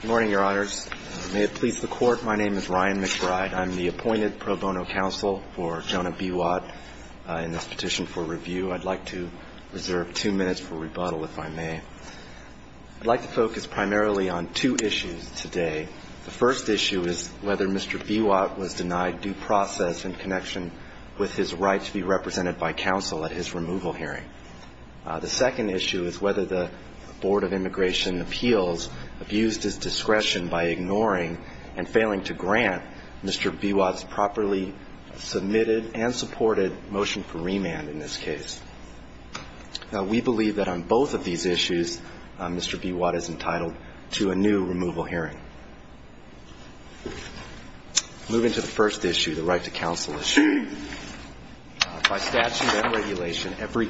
Good morning, your honors. May it please the court, my name is Ryan McBride. I'm the appointed pro bono counsel for Jonah B. Watt in this petition for review. I'd like to reserve two minutes for rebuttal if I may. I'd like to focus primarily on two issues today. The first issue is whether Mr. B. Watt was denied due process in connection with his right to be represented by counsel at his removal hearing. The second issue is whether the Board of Immigration Appeals abused his decision to discretion by ignoring and failing to grant Mr. B. Watt's properly submitted and supported motion for remand in this case. Now, we believe that on both of these issues, Mr. B. Watt is entitled to a new removal hearing. Moving to the first issue, the right to counsel issue. By statute and regulation, every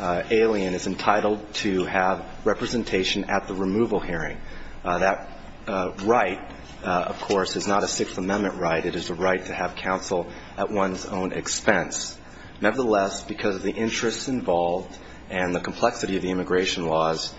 alien is entitled to have representation at the removal hearing. That is the right to counsel hearing. That is the right to have counsel at one's own expense. Nevertheless, because of the interests involved and the complexity of the immigration laws,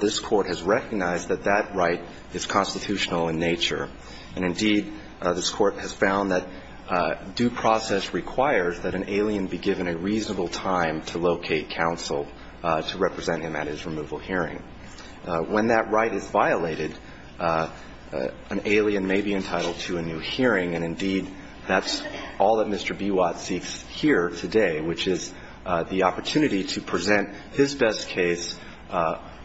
this court has recognized that that right is constitutional in nature. And, indeed, this court has found that due process requires that an alien be given a reasonable time to locate counsel to represent him at his removal hearing. When that right is violated, it is the right to have counsel at one's own expense. And, indeed, that's all that Mr. B. Watt seeks here today, which is the opportunity to present his best case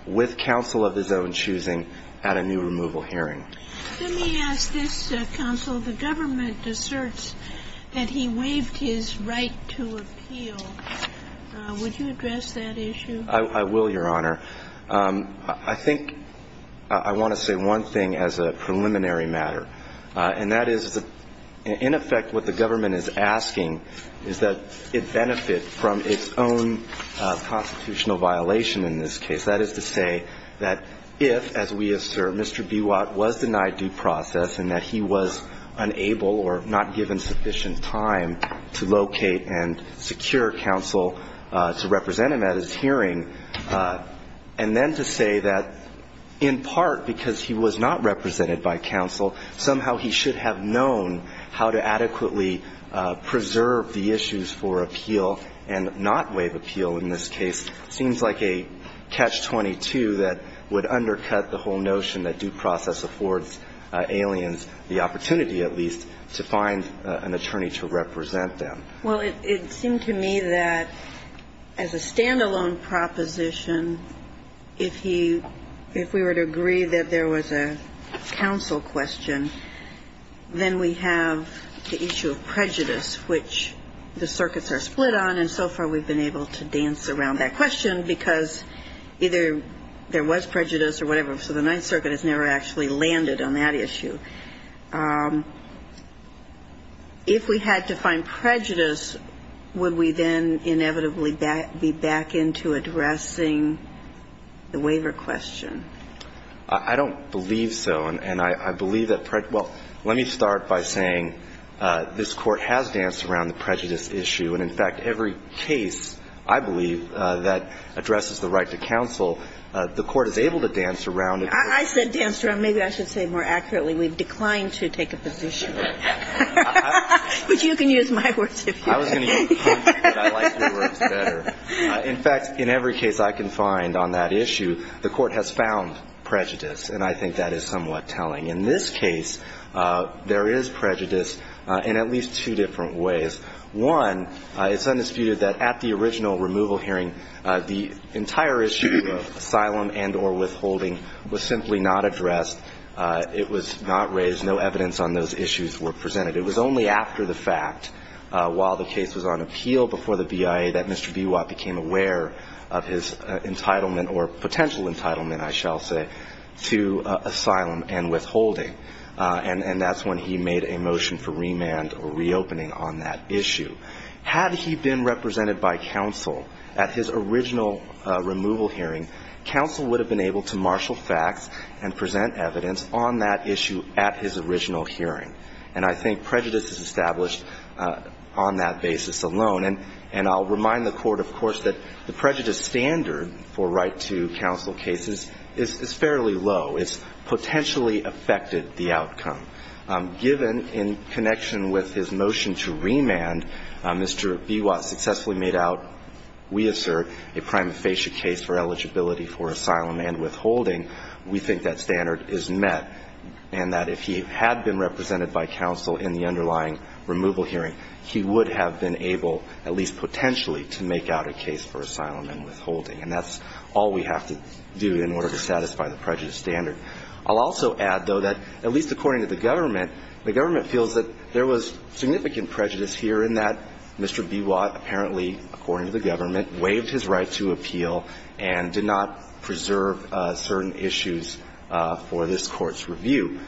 with counsel of his own choosing at a new removal hearing. Ginsburg Let me ask this, counsel. The government asserts that he waived his right to appeal. Would you address that issue? B. Watt I will, Your Honor. I think I want to say one thing as a preliminary matter. And that is, in effect, what the government is asking is that it benefit from its own constitutional violation in this case. That is to say that if, as we assert, Mr. B. Watt was denied due process and that he was unable or not given sufficient time to locate and secure counsel to represent him at his hearing, that would be a violation of the statute. And I think that's what the government is asking. And then to say that, in part, because he was not represented by counsel, somehow he should have known how to adequately preserve the issues for appeal and not waive appeal in this case seems like a catch-22 that would undercut the whole notion that due process affords aliens the opportunity, at least, to find an attorney to represent them. Kagan Well, it seemed to me that, as a stand-alone proposition, if he – if we were to agree that there was a counsel question, then we have the issue of prejudice, which the circuits are split on. And so far we've been able to dance around that question because either there was prejudice or whatever, so the Ninth Circuit has never actually landed on that issue. If we had to find prejudice, would we then inevitably be back into addressing the waiver question? Boutrous I don't believe so. And I believe that – well, let me start by saying this Court has danced around the prejudice issue. And, in fact, every case, I believe, that addresses the right to counsel, the Court is able to dance around it. I said dance around. Maybe I should say more accurately, we've declined to take a position. But you can use my words if you like. Boutrous I was going to use your words, but I like your words better. In fact, in every case I can find on that issue, the Court has found prejudice, and I think that is somewhat telling. In this case, there is prejudice in at least two different ways. One, it's undisputed that at the original removal hearing, the entire issue of asylum and or withholding was solved. It was simply not addressed. It was not raised. No evidence on those issues were presented. It was only after the fact, while the case was on appeal before the BIA, that Mr. Bewatt became aware of his entitlement or potential entitlement, I shall say, to asylum and withholding. And that's when he made a motion for remand or reopening on that issue. Had he been represented by counsel at his original removal hearing, counsel would have been able to marshal facts, and present evidence on that issue at his original hearing. And I think prejudice is established on that basis alone. And I'll remind the Court, of course, that the prejudice standard for right-to-counsel cases is fairly low. It's potentially affected the outcome. Given, in connection with his motion to remand, Mr. Bewatt successfully made out, we assert, a prima facie case for eligibility for asylum and withholding, we think that standard is met, and that if he had been represented by counsel in the underlying removal hearing, he would have been able, at least potentially, to make out a case for asylum and withholding. And that's all we have to do in order to satisfy the prejudice standard. I'll also add, though, that, at least according to the government, the government feels that there was significant prejudice here in that Mr. Bewatt apparently, according to the government, waived his right to appeal and did not preserve certain issues for this Court's review.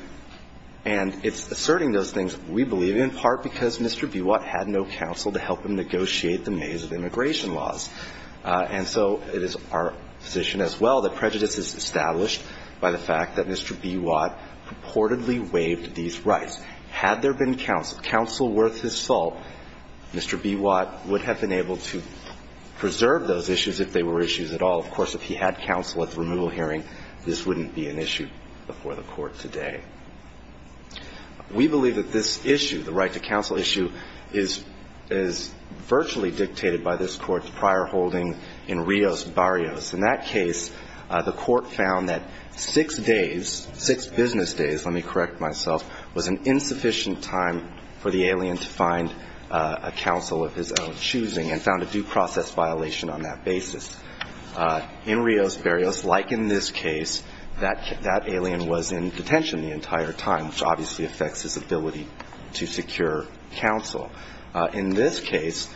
And it's asserting those things, we believe, in part because Mr. Bewatt had no counsel to help him negotiate the maze of immigration laws. And so it is our position as well that prejudice is established by the fact that Mr. Bewatt purportedly waived these rights. Had there been counsel, counsel worth his salt, Mr. Bewatt would have been able to preserve those issues if they were issues at all. Of course, if he had counsel at the removal hearing, this wouldn't be an issue before the Court today. We believe that this issue, the right to counsel issue, is virtually dictated by this Court's prior holding in Rios Barrios. In that case, the Court found that six days, six business days, let me correct myself, six business days, the Court found that six business days was an insufficient time for the alien to find a counsel of his own choosing and found a due process violation on that basis. In Rios Barrios, like in this case, that alien was in detention the entire time, which obviously affects his ability to secure counsel. In this case,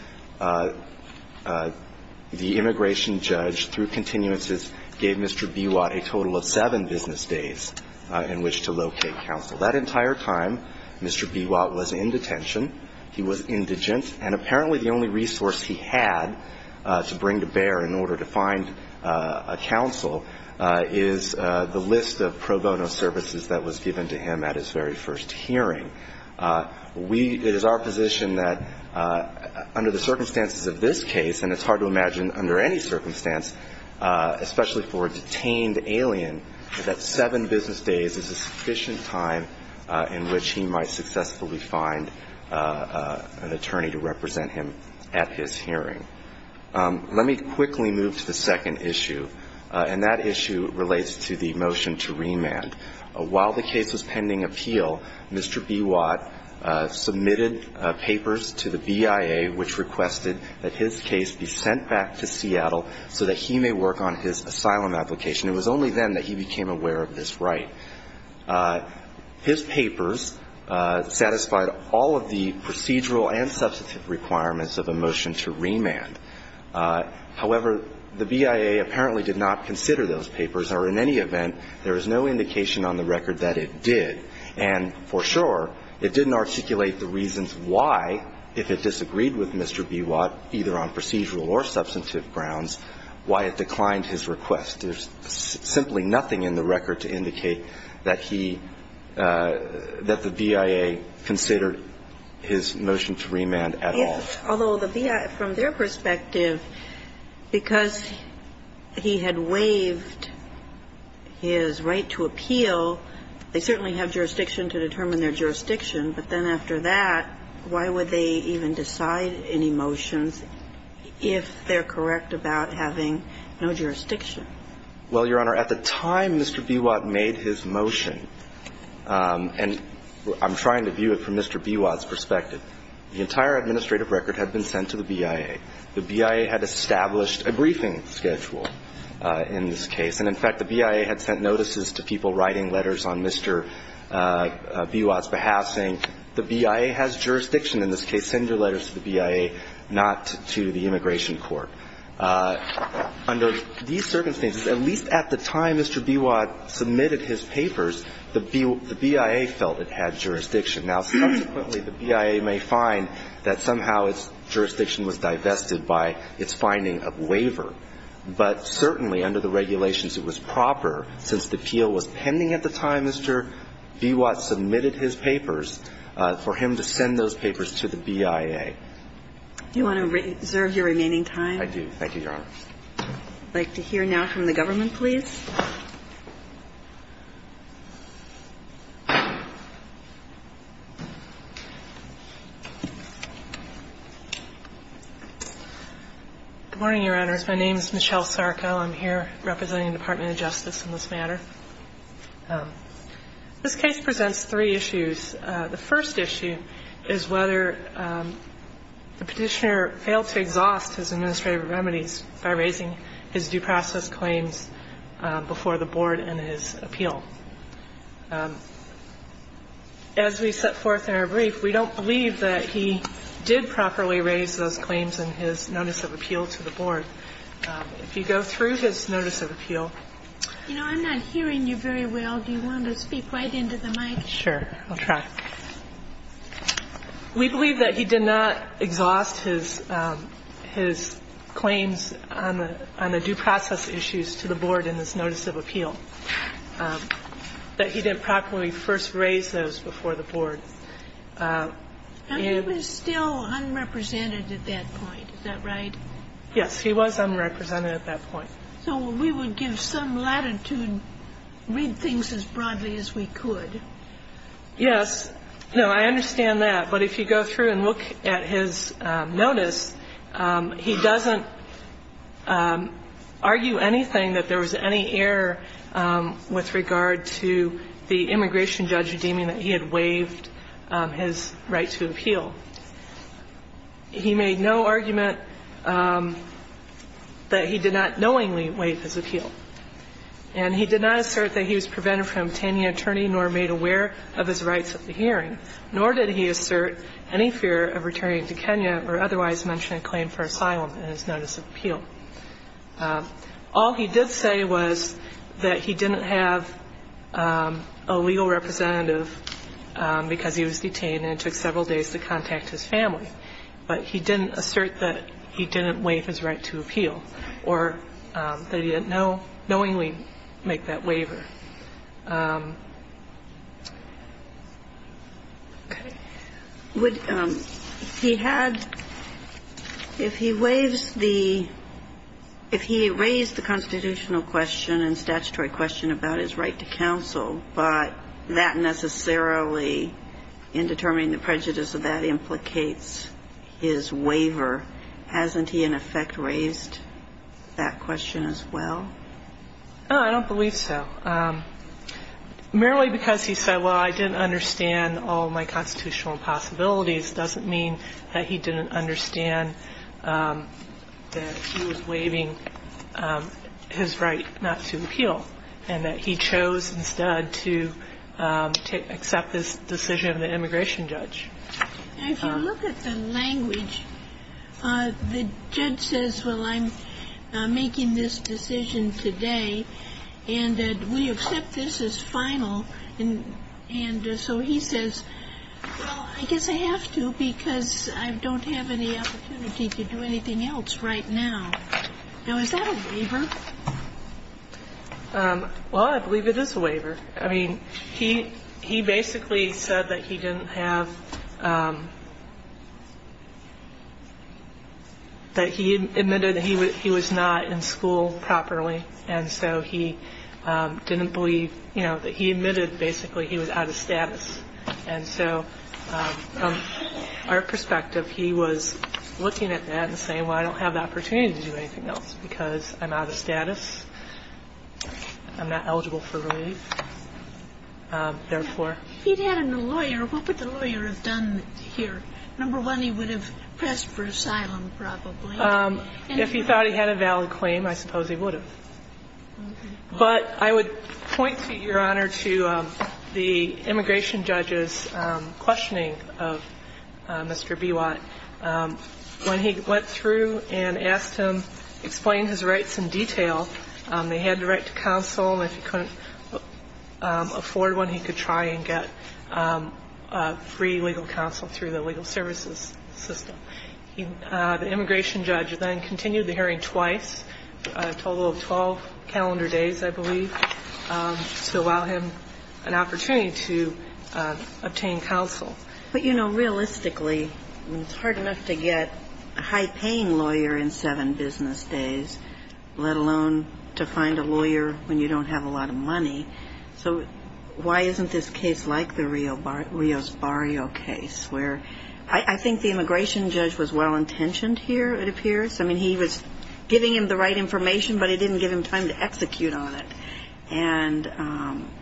the immigration judge, through continuances, gave Mr. Bewatt a total of seven business days in which to locate counsel. That entire time, Mr. Bewatt was in detention. He was indigent. And apparently the only resource he had to bring to bear in order to find a counsel is the list of pro bono services that was given to him at his very first hearing. We, it is our position that under the circumstances of this case, and it's hard to imagine under any circumstance, especially for a time in which he might successfully find an attorney to represent him at his hearing. Let me quickly move to the second issue. And that issue relates to the motion to remand. While the case was pending appeal, Mr. Bewatt submitted papers to the BIA which requested that his case be sent back to Seattle so that he may work on his asylum application. It was only then that he became aware of this right. His papers satisfied all of the procedural and substantive requirements of a motion to remand. However, the BIA apparently did not consider those papers, or in any event, there is no indication on the record that it did. And for sure, it didn't articulate the reasons why, if it disagreed with Mr. Bewatt, either on procedural or substantive grounds, why it declined his request. There's simply nothing in the record to indicate that he, that the BIA considered his motion to remand at all. Although the BIA, from their perspective, because he had waived his right to appeal, they certainly have jurisdiction to determine whether or not Mr. Bewatt's motion to remand was in their jurisdiction. But then after that, why would they even decide any motions if they're correct about having no jurisdiction? Well, Your Honor, at the time Mr. Bewatt made his motion, and I'm trying to view it from Mr. Bewatt's perspective, the entire administrative record had been sent to the BIA. The BIA had established a briefing schedule in this case. And in fact, the BIA had sent notices to people writing letters on Mr. Bewatt's behalf saying, the BIA has jurisdiction in this case. Send your letters to the BIA, not to the immigration court. Under these circumstances, at least at the time Mr. Bewatt submitted his papers, the BIA felt it had jurisdiction. Now, subsequently, the BIA may find that somehow its jurisdiction was divested by its finding of waiver. But certainly, under the regulations, it was proper, since the appeal was pending at the time Mr. Bewatt submitted his papers, for him to send those papers to the BIA. Do you want to reserve your remaining time? I do. Thank you, Your Honor. I'd like to hear now from the government, please. Good morning, Your Honors. My name is Michelle Sarko. I'm here representing the Department of Justice in this matter. This case presents three issues. The first issue is whether the Petitioner failed to exhaust his administrative remedies by raising his due process claims before the Board in his appeal. As we set forth in our brief, we don't believe that he did properly raise those claims in his notice of appeal to the Board. If you go through his notice of appeal. You know, I'm not hearing you very well. Do you want to speak right into the mic? Sure. I'll try. We believe that he did not exhaust his claims on the notice of appeal. He did not raise those claims on the due process issues to the Board in his notice of appeal, that he didn't properly first raise those before the Board. And he was still unrepresented at that point. Is that right? Yes. He was unrepresented at that point. So we would give some latitude, read things as broadly as we could. Yes. No, I understand that. But if you go through and look at his notice, he doesn't argue anything that there was any error with regard to the immigration judge deeming that he had waived his right to appeal. He made no argument that he did not knowingly waive his appeal. And he did not assert that he was prevented from obtaining an attorney nor made aware of his rights at the hearing. Nor did he assert any fear of returning to Kenya or otherwise mention a claim for asylum in his notice of appeal. All he did say was that he didn't have a legal representative because he was detained and it took several days to contact his family. But he didn't assert that he didn't waive his right to appeal or that he didn't know knowingly make that waiver. Okay. Would he had if he waives the if he raised the constitutional question and statutory question about his right to counsel, but that necessarily in determining the prejudice of that implicates his waiver, hasn't he in effect raised that question as well? No, I don't believe so. Merely because he said, well, I didn't understand all my constitutional possibilities doesn't mean that he didn't understand that he was waiving his right not to appeal and that he chose instead to accept this decision of the immigration judge. And if you look at the language, the judge says, well, I'm making this decision because I don't have a legal representative. I'm making this decision today. And we accept this as final. And so he says, well, I guess I have to because I don't have any opportunity to do anything else right now. Now, is that a waiver? Well, I believe it is a waiver. I mean, he he basically said that he didn't have that he admitted that he was not in school properly. And so he didn't believe, you know, that he admitted basically he was out of status. And so from our perspective, he was looking at that and saying, well, I don't have the opportunity to do anything else because I'm out of status. I'm not eligible for relief. Therefore. If he'd had a lawyer, what would the lawyer have done here? Number one, he would have pressed for asylum probably. If he thought he had a valid claim, I suppose he would have. But I would point, Your Honor, to the immigration judge's questioning of Mr. Bewatt. When he went through and asked him to explain his rights in detail, they had the right to counsel. And if he couldn't afford one, he could try and get free legal counsel through the legal services system. The immigration judge then continued the hearing twice, a total of 12 calendar days, I believe, to allow him an opportunity to obtain counsel. But, you know, realistically, it's hard enough to get a high-paying lawyer in seven business days, let alone to find a lawyer when you don't have a lot of money. So why isn't this case like the Rios Barrio case, where I think the immigration judge's question was, well, I don't have the opportunity I don't have the opportunity to get free legal counsel. And I think the immigration judge was well-intentioned here, it appears. I mean, he was giving him the right information, but he didn't give him time to execute on it. And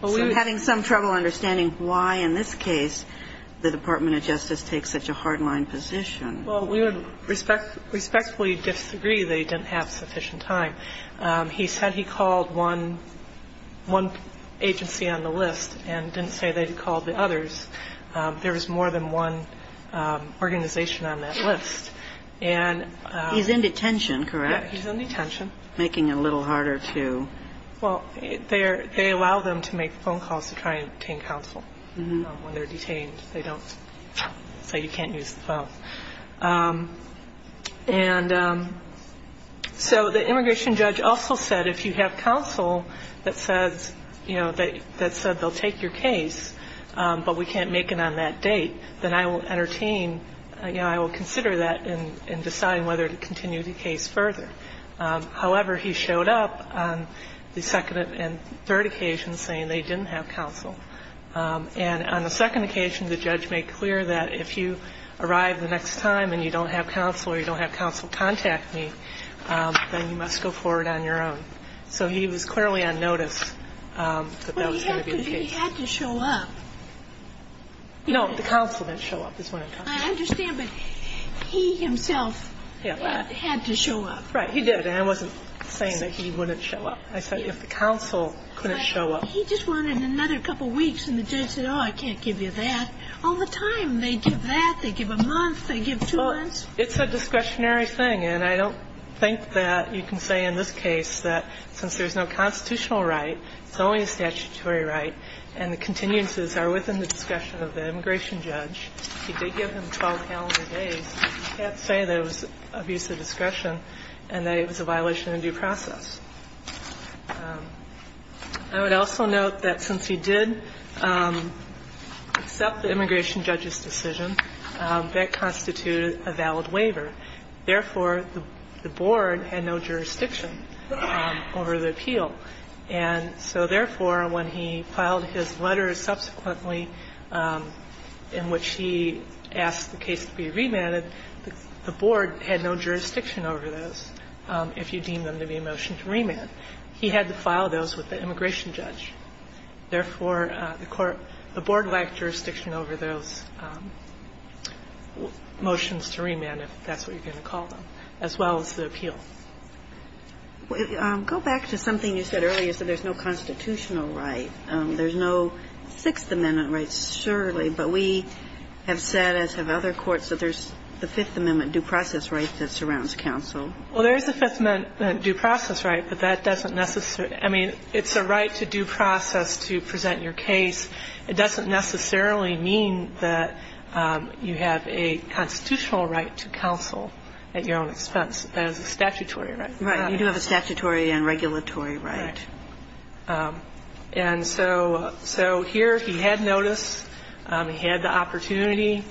so having some trouble understanding why, in this case, the Department of Justice takes such a hard-line position. Well, we would respectfully disagree that he didn't have sufficient time. He said he called one agency on the list and didn't say that he called the others. There was more than one organization on that list. And he's in detention, correct? Yeah, he's in detention. Making it a little harder to. Well, they allow them to make phone calls to try and obtain counsel when they're detained. They don't say you can't use the phone. And so the immigration judge also said if you have counsel that says, you know, that said they'll take your case, but we can't make it on that date, then I will entertain, you know, I will consider that and decide whether to continue the case further. However, he showed up on the second and third occasions saying they didn't have counsel. And on the second occasion, the judge made clear that if you arrive the next time and you don't have counsel or you don't have counsel contact me, then you must go forward on your own. So he was clearly on notice that that was going to be the case. But he had to show up. No, the counsel didn't show up is what I'm talking about. I understand, but he himself had to show up. Right. He did. And I wasn't saying that he wouldn't show up. I said if the counsel couldn't show up. He just wanted another couple of weeks. And the judge said, oh, I can't give you that. All the time they give that. They give a month. They give two months. It's a discretionary thing. And I don't think that you can say in this case that since there's no constitutional right, it's only a statutory right, and the continuances are within the discretion of the immigration judge. He did give him 12 calendar days. You can't say that it was abuse of discretion and that it was a violation of due process. I would also note that since he did accept the immigration judge's decision, that constituted a valid waiver. Therefore, the board had no jurisdiction over the appeal. And so therefore, when he filed his letter subsequently in which he asked the case to be remanded, the board had no jurisdiction over this, if you deem them to be a motion to remand, he had to file those with the immigration judge. Therefore, the court – the board lacked jurisdiction over those motions to remand, if that's what you're going to call them, as well as the appeal. Go back to something you said earlier. You said there's no constitutional right. There's no Sixth Amendment right, surely, but we have said, as have other courts, that there's the Fifth Amendment due process right that surrounds counsel. Well, there is a Fifth Amendment due process right, but that doesn't necessarily – I mean, it's a right to due process to present your case. It doesn't necessarily mean that you have a constitutional right to counsel at your own expense. That is a statutory right. Right. You do have a statutory and regulatory right. Right. And so here he had notice. He had the opportunity.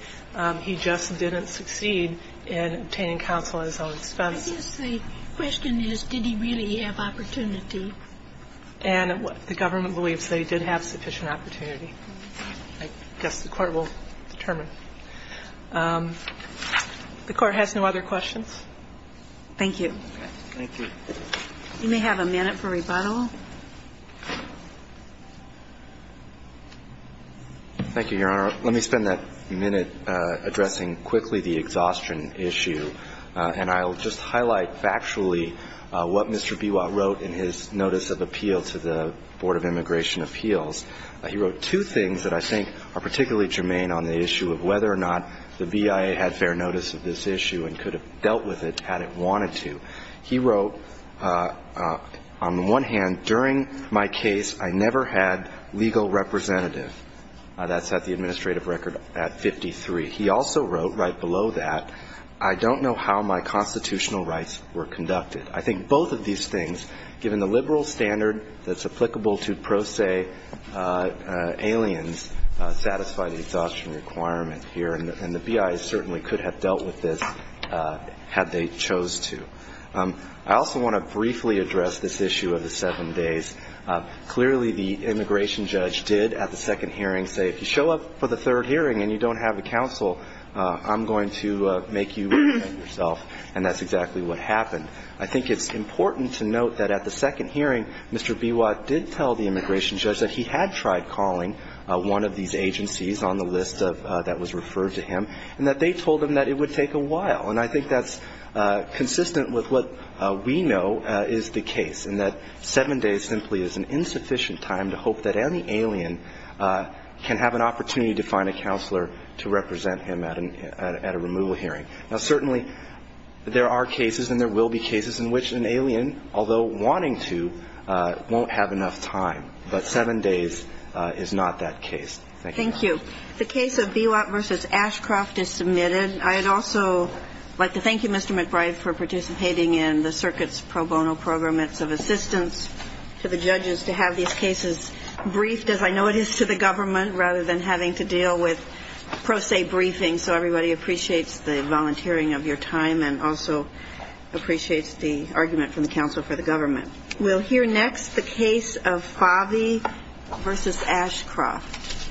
He just didn't succeed in obtaining counsel at his own expense. I guess the question is, did he really have opportunity? And the government believes that he did have sufficient opportunity. I guess the Court will determine. The Court has no other questions. Thank you. Thank you. You may have a minute for rebuttal. Thank you, Your Honor. Let me spend that minute addressing quickly the exhaustion issue. And I'll just highlight factually what Mr. Biwa wrote in his notice of appeal to the Board of Immigration Appeals. He wrote two things that I think are particularly germane on the issue of whether or not the BIA had fair notice of this issue and could have dealt with it had it wanted to. He wrote, on the one hand, during my case, I never had legal representative. That's at the administrative record at 53. He also wrote right below that, I don't know how my constitutional rights were conducted. I think both of these things, given the liberal standard that's applicable to pro se aliens, satisfy the exhaustion requirement here. And the BIA certainly could have dealt with this had they chose to. I also want to briefly address this issue of the seven days. Clearly, the immigration judge did at the second hearing say, if you show up for the third hearing and you don't have a counsel, I'm going to make you defend yourself. And that's exactly what happened. I think it's important to note that at the second hearing, Mr. Biwa did tell the immigration judge that he had tried calling one of these agencies on the list that was referred to him, and that they told him that it would take a while. And I think that's consistent with what we know is the case, in that seven days simply is an insufficient time to hope that any alien can have an opportunity to find a counselor to represent him at a removal hearing. Now, certainly there are cases and there will be cases in which an alien, although wanting to, won't have enough time, but seven days is not that case. Thank you. Thank you. The case of Biwa v. Ashcroft is submitted. I'd also like to thank you, Mr. McBride, for participating in the circuit's pro bono program. It's of assistance to the judges to have these cases briefed, as I know it is, to the government, rather than having to deal with pro se briefings. So everybody appreciates the volunteering of your time and also appreciates the argument from the counsel for the government. We'll hear next the case of Favi v. Ashcroft.